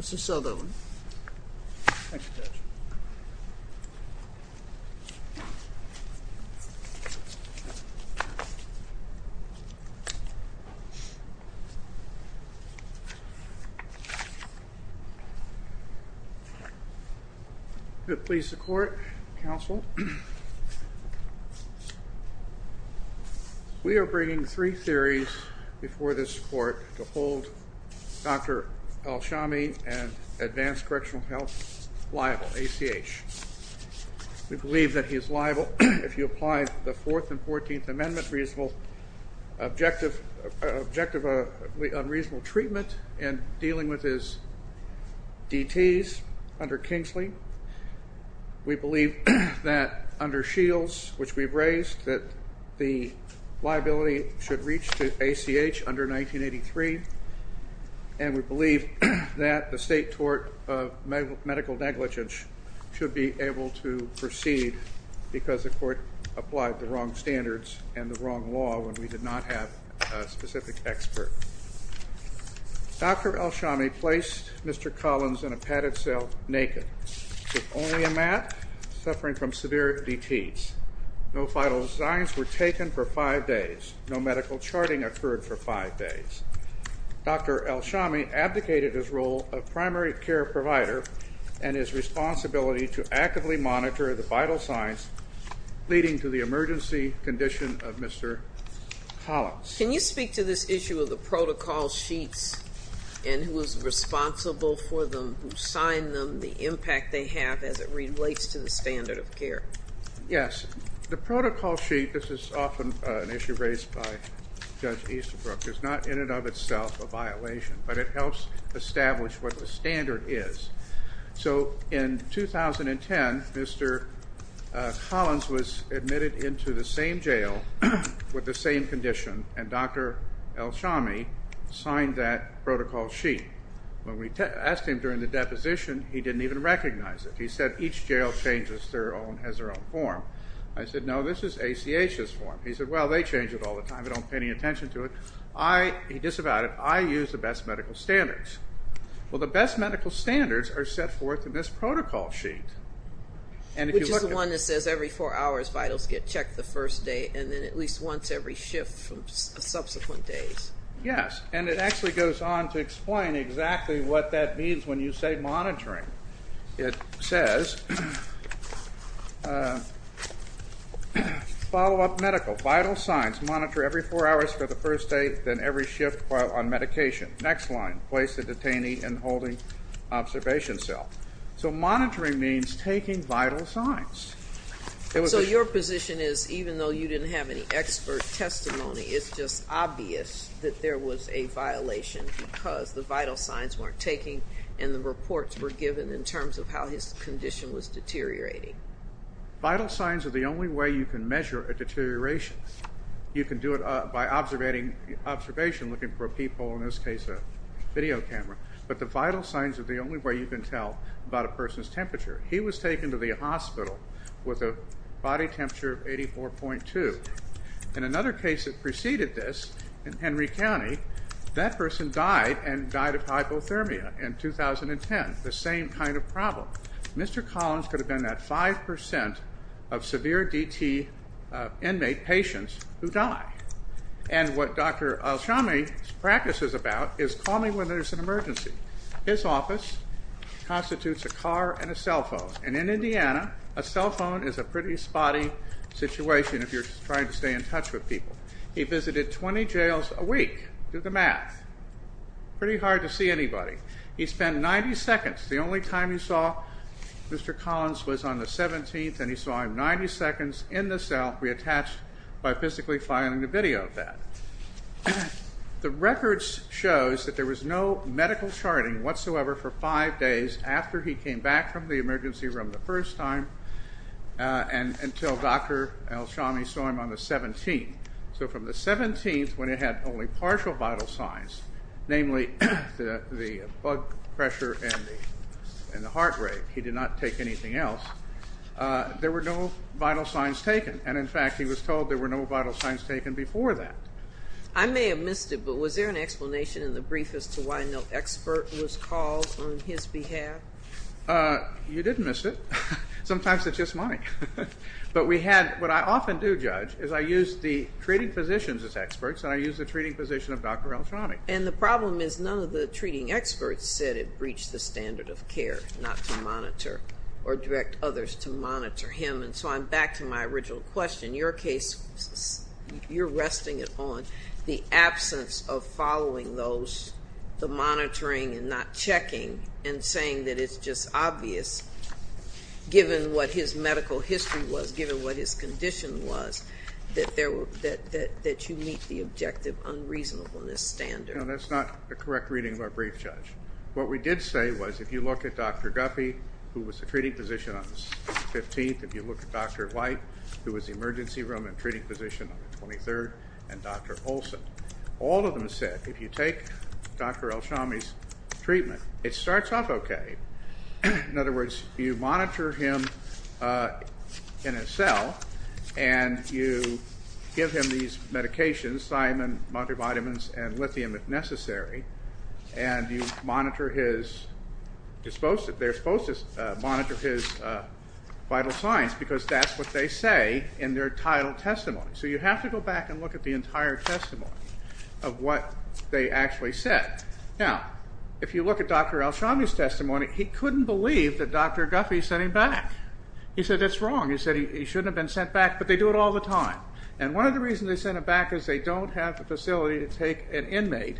Mr. Southerland, thank you for your attention. Could it please the Court, Counsel? We are bringing three theories before this Court to hold Dr. Al-Shami and Advanced Correctional Health liable, ACH. We believe that he is liable if you apply the Fourth and Fourteenth Amendment, Objective of Unreasonable Treatment, and dealing with his DTs under Kingsley. We believe that under Shields, which we've raised, that the liability should reach to ACH under 1983. And we believe that the state tort of medical negligence should be able to proceed because the Court applied the wrong standards and the wrong law when we did not have a specific expert. Dr. Al-Shami placed Mr. Collins in a padded cell naked with only a mat, suffering from severe DTs. No vital signs were taken for five days. No medical charting occurred for five days. Dr. Al-Shami abdicated his role of primary care provider and his responsibility to actively monitor the vital signs leading to the emergency condition of Mr. Collins. Can you speak to this issue of the protocol sheets and who is responsible for them, who signed them, the impact they have as it relates to the standard of care? Yes. The protocol sheet, this is often an issue raised by Judge Easterbrook, is not in and of itself a violation, but it helps establish what the standard is. So in 2010, Mr. Collins was admitted into the same jail with the same condition, and Dr. Al-Shami signed that protocol sheet. When we asked him during the deposition, he didn't even recognize it. He said each jail changes their own, has their own form. I said, no, this is ACH's form. He said, well, they change it all the time. They don't pay any attention to it. He disavowed it. I use the best medical standards. Well, the best medical standards are set forth in this protocol sheet. Which is the one that says every four hours vitals get checked the first day and then at least once every shift for subsequent days. Yes, and it actually goes on to explain exactly what that means when you say monitoring. It says, follow-up medical, vital signs, monitor every four hours for the first day, then every shift while on medication. Next line, place the detainee in holding observation cell. So monitoring means taking vital signs. So your position is even though you didn't have any expert testimony, it's just obvious that there was a violation because the vital signs weren't taking and the reports were given in terms of how his condition was deteriorating. Vital signs are the only way you can measure a deterioration. You can do it by observation, looking for people, in this case a video camera. But the vital signs are the only way you can tell about a person's temperature. He was taken to the hospital with a body temperature of 84.2. In another case that preceded this, in Henry County, that person died and died of hypothermia in 2010. The same kind of problem. Mr. Collins could have been that 5% of severe DT inmate patients who die. And what Dr. Alshami's practice is about is call me when there's an emergency. His office constitutes a car and a cell phone. And in Indiana, a cell phone is a pretty spotty situation if you're trying to stay in touch with people. He visited 20 jails a week. Do the math. Pretty hard to see anybody. He spent 90 seconds. The only time he saw Mr. Collins was on the 17th and he saw him 90 seconds in the cell reattached by physically filing a video of that. The records show that there was no medical charting whatsoever for five days after he came back from the emergency room the first time until Dr. Alshami saw him on the 17th. So from the 17th, when he had only partial vital signs, namely the blood pressure and the heart rate, he did not take anything else, there were no vital signs taken. And in fact, he was told there were no vital signs taken before that. I may have missed it, but was there an explanation in the brief as to why no expert was called on his behalf? You didn't miss it. Sometimes it's just money. But we had what I often do, Judge, is I use the treating physicians as experts and I use the treating physician of Dr. Alshami. And the problem is none of the treating experts said it breached the standard of care not to monitor or direct others to monitor him. And so I'm back to my original question. Your case, you're resting it on the absence of following those, the monitoring and not checking, and saying that it's just obvious given what his medical history was, given what his condition was, that you meet the objective unreasonableness standard. No, that's not a correct reading of our brief, Judge. What we did say was if you look at Dr. Guppy, who was the treating physician on the 15th, if you look at Dr. White, who was the emergency room and treating physician on the 23rd, and Dr. Olson, all of them said if you take Dr. Alshami's treatment, it starts off okay. In other words, you monitor him in a cell and you give him these medications, thiamine, multivitamins, and lithium if necessary, and you monitor his, they're supposed to monitor his vital signs because that's what they say in their title testimony. So you have to go back and look at the entire testimony of what they actually said. Now, if you look at Dr. Alshami's testimony, he couldn't believe that Dr. Guppy sent him back. He said it's wrong. He said he shouldn't have been sent back, but they do it all the time. And one of the reasons they sent him back is they don't have the facility to take an inmate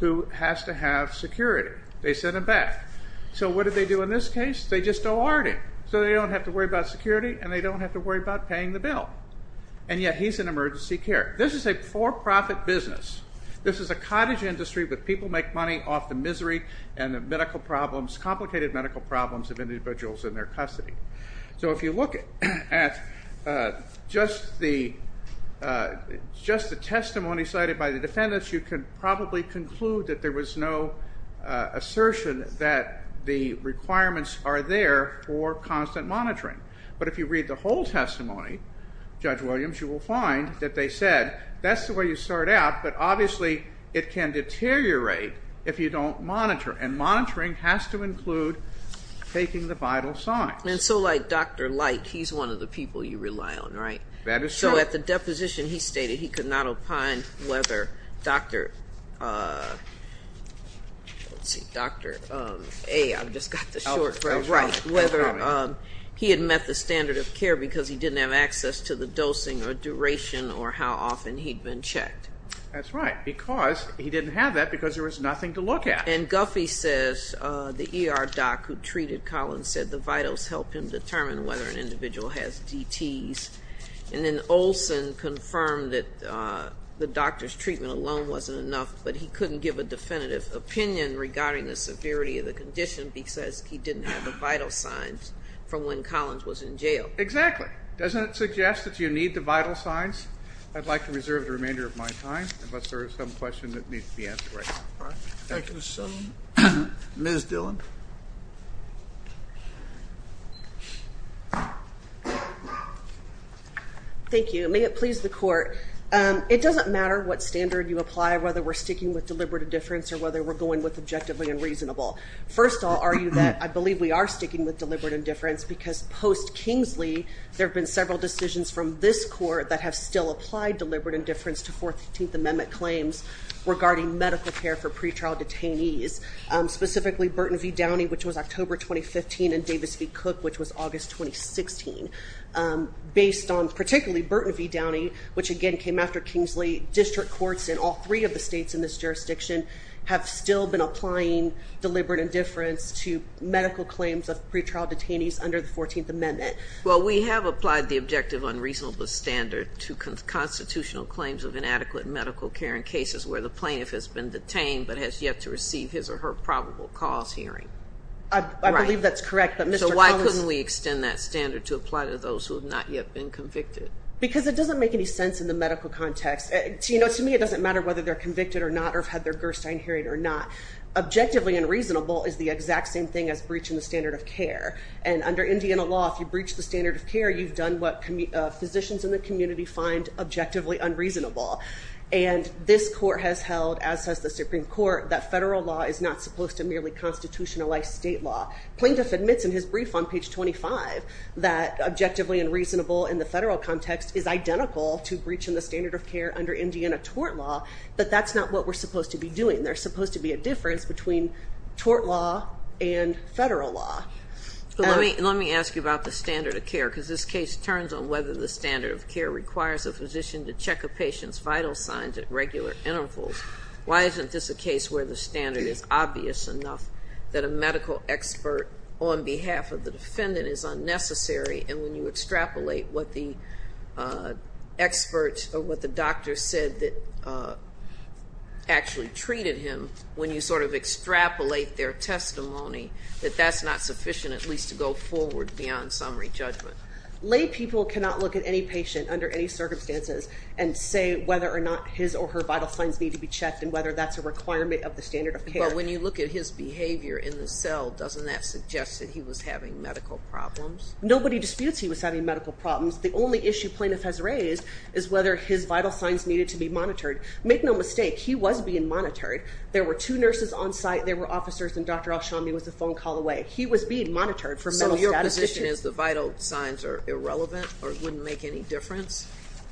who has to have security. They sent him back. So what did they do in this case? They just don't want him. So they don't have to worry about security and they don't have to worry about paying the bill. And yet he's in emergency care. This is a for-profit business. This is a cottage industry where people make money off the misery and the medical problems, complicated medical problems of individuals in their custody. So if you look at just the testimony cited by the defendants, you can probably conclude that there was no assertion that the requirements are there for constant monitoring. But if you read the whole testimony, Judge Williams, you will find that they said, that's the way you start out, but obviously it can deteriorate if you don't monitor. And monitoring has to include taking the vital signs. And so like Dr. Light, he's one of the people you rely on, right? That is true. So at the deposition he stated he could not opine whether Dr. A, I've just got the short for it right, whether he had met the standard of care because he didn't have access to the dosing or duration or how often he'd been checked. That's right, because he didn't have that because there was nothing to look at. And Guffey says the ER doc who treated Collins said the vitals helped him determine whether an individual has DTs. And then Olson confirmed that the doctor's treatment alone wasn't enough, but he couldn't give a definitive opinion regarding the severity of the condition because he didn't have the vital signs from when Collins was in jail. Exactly. Doesn't it suggest that you need the vital signs? I'd like to reserve the remainder of my time unless there is some question that needs to be answered right now. Thank you. Ms. Dillon. Thank you. May it please the Court. It doesn't matter what standard you apply, whether we're sticking with deliberate indifference or whether we're going with objectively unreasonable. First, I'll argue that I believe we are sticking with deliberate indifference because post-Kingsley, there have been several decisions from this Court that have still applied deliberate indifference to 14th Amendment claims regarding medical care for pretrial detainees, specifically Burton v. Downey, which was October 2015, and Davis v. Cook, which was August 2016. Based on particularly Burton v. Downey, which again came after Kingsley, district courts in all three of the states in this jurisdiction have still been applying deliberate indifference to medical claims of pretrial detainees under the 14th Amendment. Well, we have applied the objective unreasonable standard to constitutional claims of inadequate medical care in cases where the plaintiff has been detained but has yet to receive his or her probable cause hearing. I believe that's correct. So why couldn't we extend that standard to apply to those who have not yet been convicted? Because it doesn't make any sense in the medical context. To me, it doesn't matter whether they're convicted or not or have had their Gerstein hearing or not. Objectively unreasonable is the exact same thing as breaching the standard of care. And under Indiana law, if you breach the standard of care, you've done what physicians in the community find objectively unreasonable. And this Court has held, as has the Supreme Court, that federal law is not supposed to merely constitutionalize state law. Plaintiff admits in his brief on page 25 that objectively unreasonable in the federal context is identical to breaching the standard of care under Indiana tort law, but that's not what we're supposed to be doing. There's supposed to be a difference between tort law and federal law. Let me ask you about the standard of care, because this case turns on whether the standard of care requires a physician to check a patient's vital signs at regular intervals. Why isn't this a case where the standard is obvious enough that a medical expert on behalf of the defendant is unnecessary, and when you extrapolate what the expert or what the doctor said that actually treated him, when you sort of extrapolate their testimony, that that's not sufficient at least to go forward beyond summary judgment? Lay people cannot look at any patient under any circumstances and say whether or not his or her vital signs need to be checked and whether that's a requirement of the standard of care. But when you look at his behavior in the cell, doesn't that suggest that he was having medical problems? Nobody disputes he was having medical problems. The only issue plaintiff has raised is whether his vital signs needed to be monitored. Make no mistake, he was being monitored. There were two nurses on site, there were officers, and Dr. Alshami was a phone call away. He was being monitored for mental statisticians. So your position is the vital signs are irrelevant or wouldn't make any difference?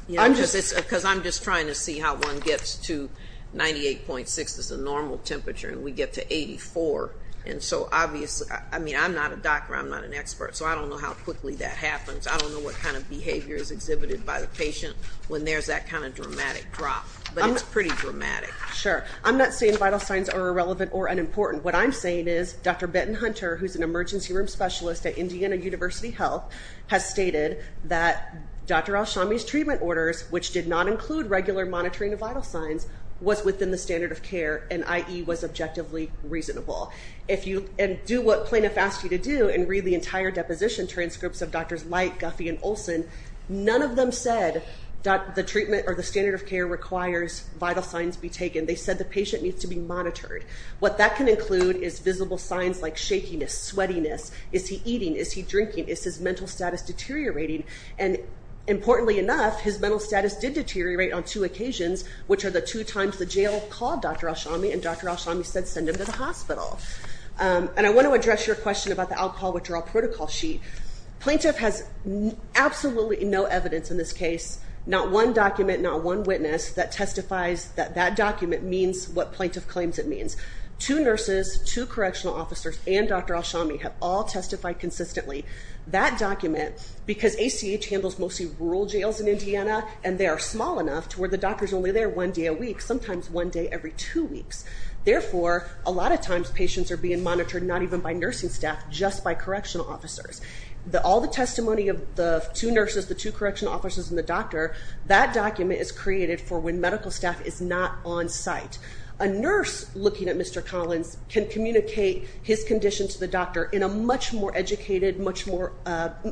Because I'm just trying to see how one gets to 98.6 is the normal temperature, and we get to 84. And so obviously, I mean, I'm not a doctor, I'm not an expert, so I don't know how quickly that happens. I don't know what kind of behavior is exhibited by the patient when there's that kind of dramatic drop, but it's pretty dramatic. Sure. I'm not saying vital signs are irrelevant or unimportant. What I'm saying is Dr. Benton Hunter, who's an emergency room specialist at Indiana University Health, has stated that Dr. Alshami's treatment orders, which did not include regular monitoring of vital signs, was within the standard of care and, i.e., was objectively reasonable. And do what plaintiff asked you to do and read the entire deposition transcripts of Drs. Light, Guffey, and Olson. None of them said the treatment or the standard of care requires vital signs be taken. They said the patient needs to be monitored. What that can include is visible signs like shakiness, sweatiness, is he eating, is he drinking, is his mental status deteriorating? And importantly enough, his mental status did deteriorate on two occasions, which are the two times the jail called Dr. Alshami and Dr. Alshami said send him to the hospital. And I want to address your question about the alcohol withdrawal protocol sheet. Plaintiff has absolutely no evidence in this case, not one document, not one witness, that testifies that that document means what plaintiff claims it means. Two nurses, two correctional officers, and Dr. Alshami have all testified consistently. That document, because ACH handles mostly rural jails in Indiana and they are small enough to where the doctor is only there one day a week, sometimes one day every two weeks. Therefore, a lot of times patients are being monitored not even by nursing staff, just by correctional officers. All the testimony of the two nurses, the two correctional officers, and the doctor, that document is created for when medical staff is not on site. A nurse looking at Mr. Collins can communicate his condition to the doctor in a much more educated, much more,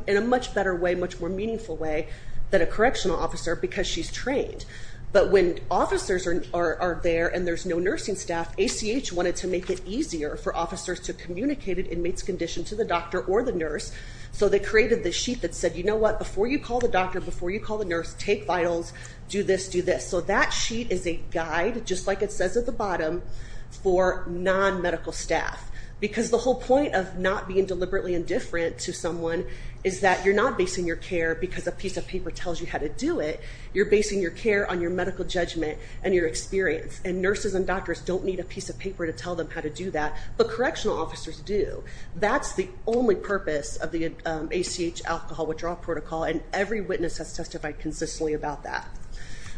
in a much better way, much more meaningful way than a correctional officer because she's trained. But when officers are there and there's no nursing staff, ACH wanted to make it easier for officers to communicate an inmate's condition to the doctor or the nurse, so they created this sheet that said, you know what, before you call the doctor, before you call the nurse, take vitals, do this, do this. So that sheet is a guide, just like it says at the bottom, for non-medical staff because the whole point of not being deliberately indifferent to someone is that you're not basing your care because a piece of paper tells you how to do it. You're basing your care on your medical judgment and your experience, and nurses and doctors don't need a piece of paper to tell them how to do that, but correctional officers do. That's the only purpose of the ACH alcohol withdrawal protocol, and every witness has testified consistently about that.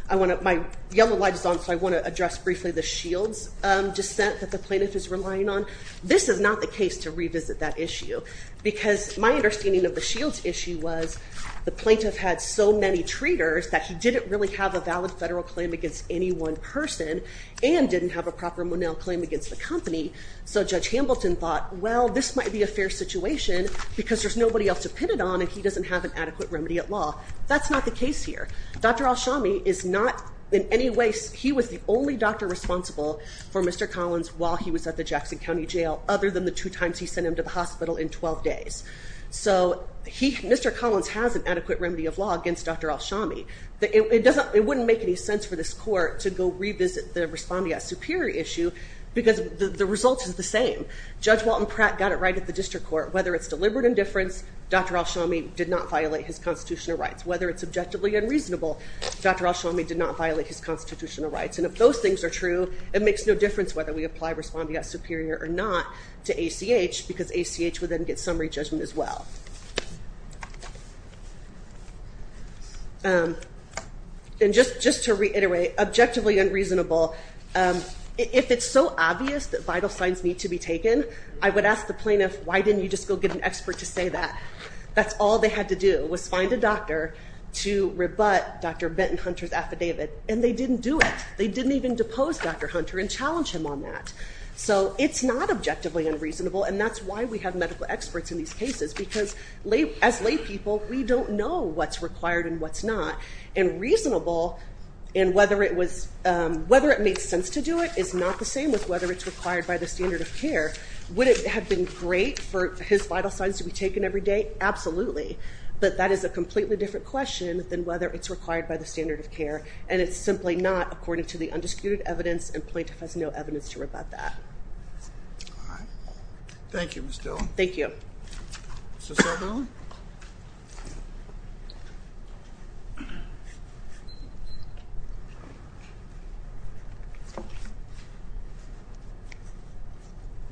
My yellow light is on, so I want to address briefly the Shields dissent that the plaintiff is relying on. This is not the case to revisit that issue because my understanding of the Shields issue was the plaintiff had so many treaters that he didn't really have a valid federal claim against any one person and didn't have a proper Monell claim against the company, so Judge Hambleton thought, well, this might be a fair situation because there's nobody else to pin it on and he doesn't have an adequate remedy at law. That's not the case here. Dr. Alshami is not in any way, he was the only doctor responsible for Mr. Collins while he was at the Jackson County Jail other than the two times he sent him to the hospital in 12 days. So Mr. Collins has an adequate remedy of law against Dr. Alshami. It wouldn't make any sense for this court to go revisit the Respondeat Superior issue because the result is the same. Judge Walton Pratt got it right at the district court. Whether it's deliberate indifference, Dr. Alshami did not violate his constitutional rights. Whether it's objectively unreasonable, Dr. Alshami did not violate his constitutional rights. And if those things are true, it makes no difference whether we apply Respondeat Superior or not to ACH because ACH would then get summary judgment as well. And just to reiterate, objectively unreasonable, if it's so obvious that vital signs need to be taken, I would ask the plaintiff, why didn't you just go get an expert to say that? That's all they had to do was find a doctor to rebut Dr. Benton Hunter's affidavit, and they didn't do it. They didn't even depose Dr. Hunter and challenge him on that. So it's not objectively unreasonable, and that's why we have medical experts in these cases because as laypeople, we don't know what's required and what's not. And reasonable and whether it made sense to do it is not the same as whether it's required by the standard of care. Would it have been great for his vital signs to be taken every day? Absolutely. But that is a completely different question than whether it's required by the standard of care, and it's simply not according to the undisputed evidence, and plaintiff has no evidence to rebut that. All right. Thank you, Ms. Dillon. Thank you. Mr. Saldana?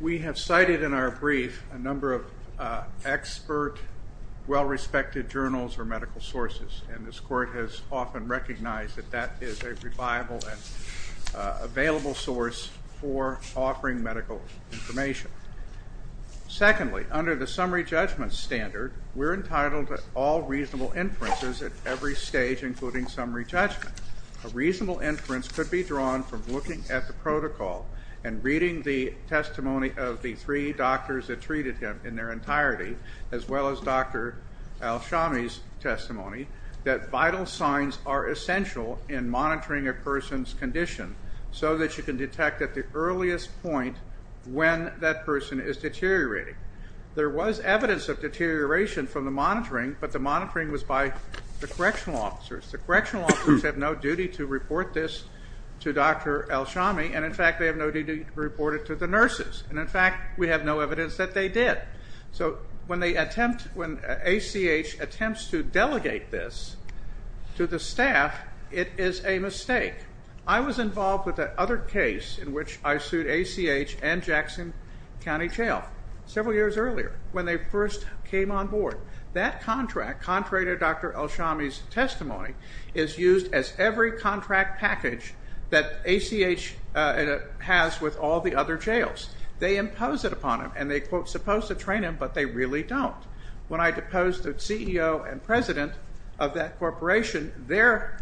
We have cited in our brief a number of expert, well-respected journals or medical sources, and this Court has often recognized that that is a reliable and available source for offering medical information. Secondly, under the summary judgment standard, we're entitled to all reasonable inferences at every stage, including summary judgment. A reasonable inference could be drawn from looking at the protocol and reading the testimony of the three doctors that treated him in their entirety, as well as Dr. Alshami's testimony, that vital signs are essential in monitoring a person's condition so that you can detect at the earliest point when that person is deteriorating. There was evidence of deterioration from the monitoring, but the monitoring was by the correctional officers. The correctional officers have no duty to report this to Dr. Alshami, and, in fact, they have no duty to report it to the nurses. And, in fact, we have no evidence that they did. So when ACH attempts to delegate this to the staff, it is a mistake. I was involved with the other case in which I sued ACH and Jackson County Jail several years earlier, when they first came on board. That contract, contrary to Dr. Alshami's testimony, is used as every contract package that ACH has with all the other jails. They impose it upon them, and they, quote, supposed to train them, but they really don't. When I deposed the CEO and president of that corporation, their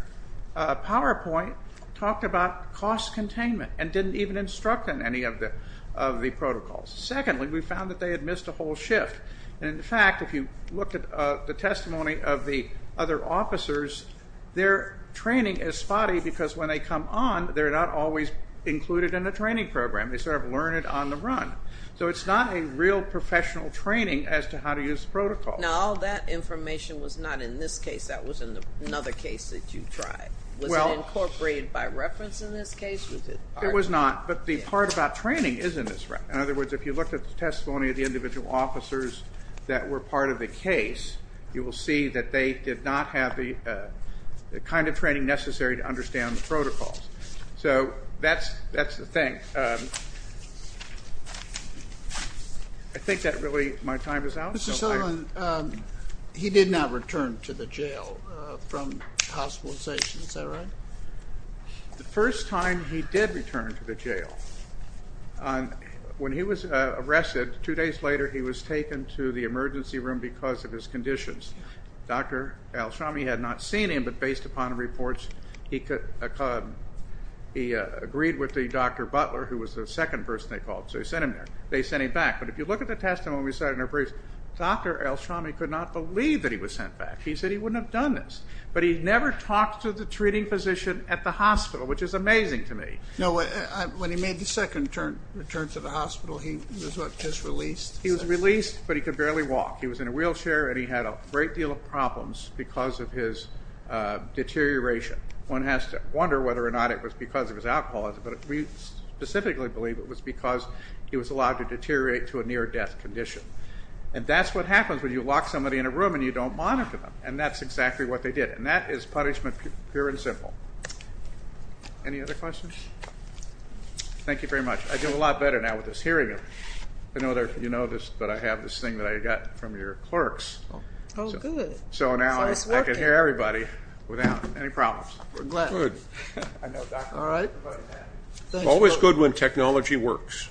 PowerPoint talked about cost containment and didn't even instruct on any of the protocols. Secondly, we found that they had missed a whole shift. And, in fact, if you look at the testimony of the other officers, their training is spotty because when they come on, they're not always included in the training program. They sort of learn it on the run. So it's not a real professional training as to how to use protocols. Now, all that information was not in this case. That was in another case that you tried. Was it incorporated by reference in this case? It was not, but the part about training is in this record. In other words, if you looked at the testimony of the individual officers that were part of the case, you will see that they did not have the kind of training necessary to understand the protocols. So that's the thing. I think that really my time is out. Mr. Sullivan, he did not return to the jail from hospitalization. Is that right? The first time he did return to the jail, when he was arrested, two days later, he was taken to the emergency room because of his conditions. Dr. Alshami had not seen him, but based upon reports, he agreed with the Dr. Butler, who was the second person they called. So they sent him there. They sent him back. But if you look at the testimony we cited in our briefs, Dr. Alshami could not believe that he was sent back. He said he wouldn't have done this. But he never talked to the treating physician at the hospital, which is amazing to me. No, when he made the second return to the hospital, he was what, just released? He was released, but he could barely walk. He was in a wheelchair, and he had a great deal of problems because of his deterioration. One has to wonder whether or not it was because of his alcoholism, but we specifically believe it was because he was allowed to deteriorate to a near-death condition. And that's what happens when you lock somebody in a room and you don't monitor them, and that's exactly what they did. And that is punishment, pure and simple. Any other questions? Thank you very much. I do a lot better now with this hearing aid. I know you know this, but I have this thing that I got from your clerks. Oh, good. So now I can hear everybody without any problems. I'm glad. Good. All right. Always good when technology works.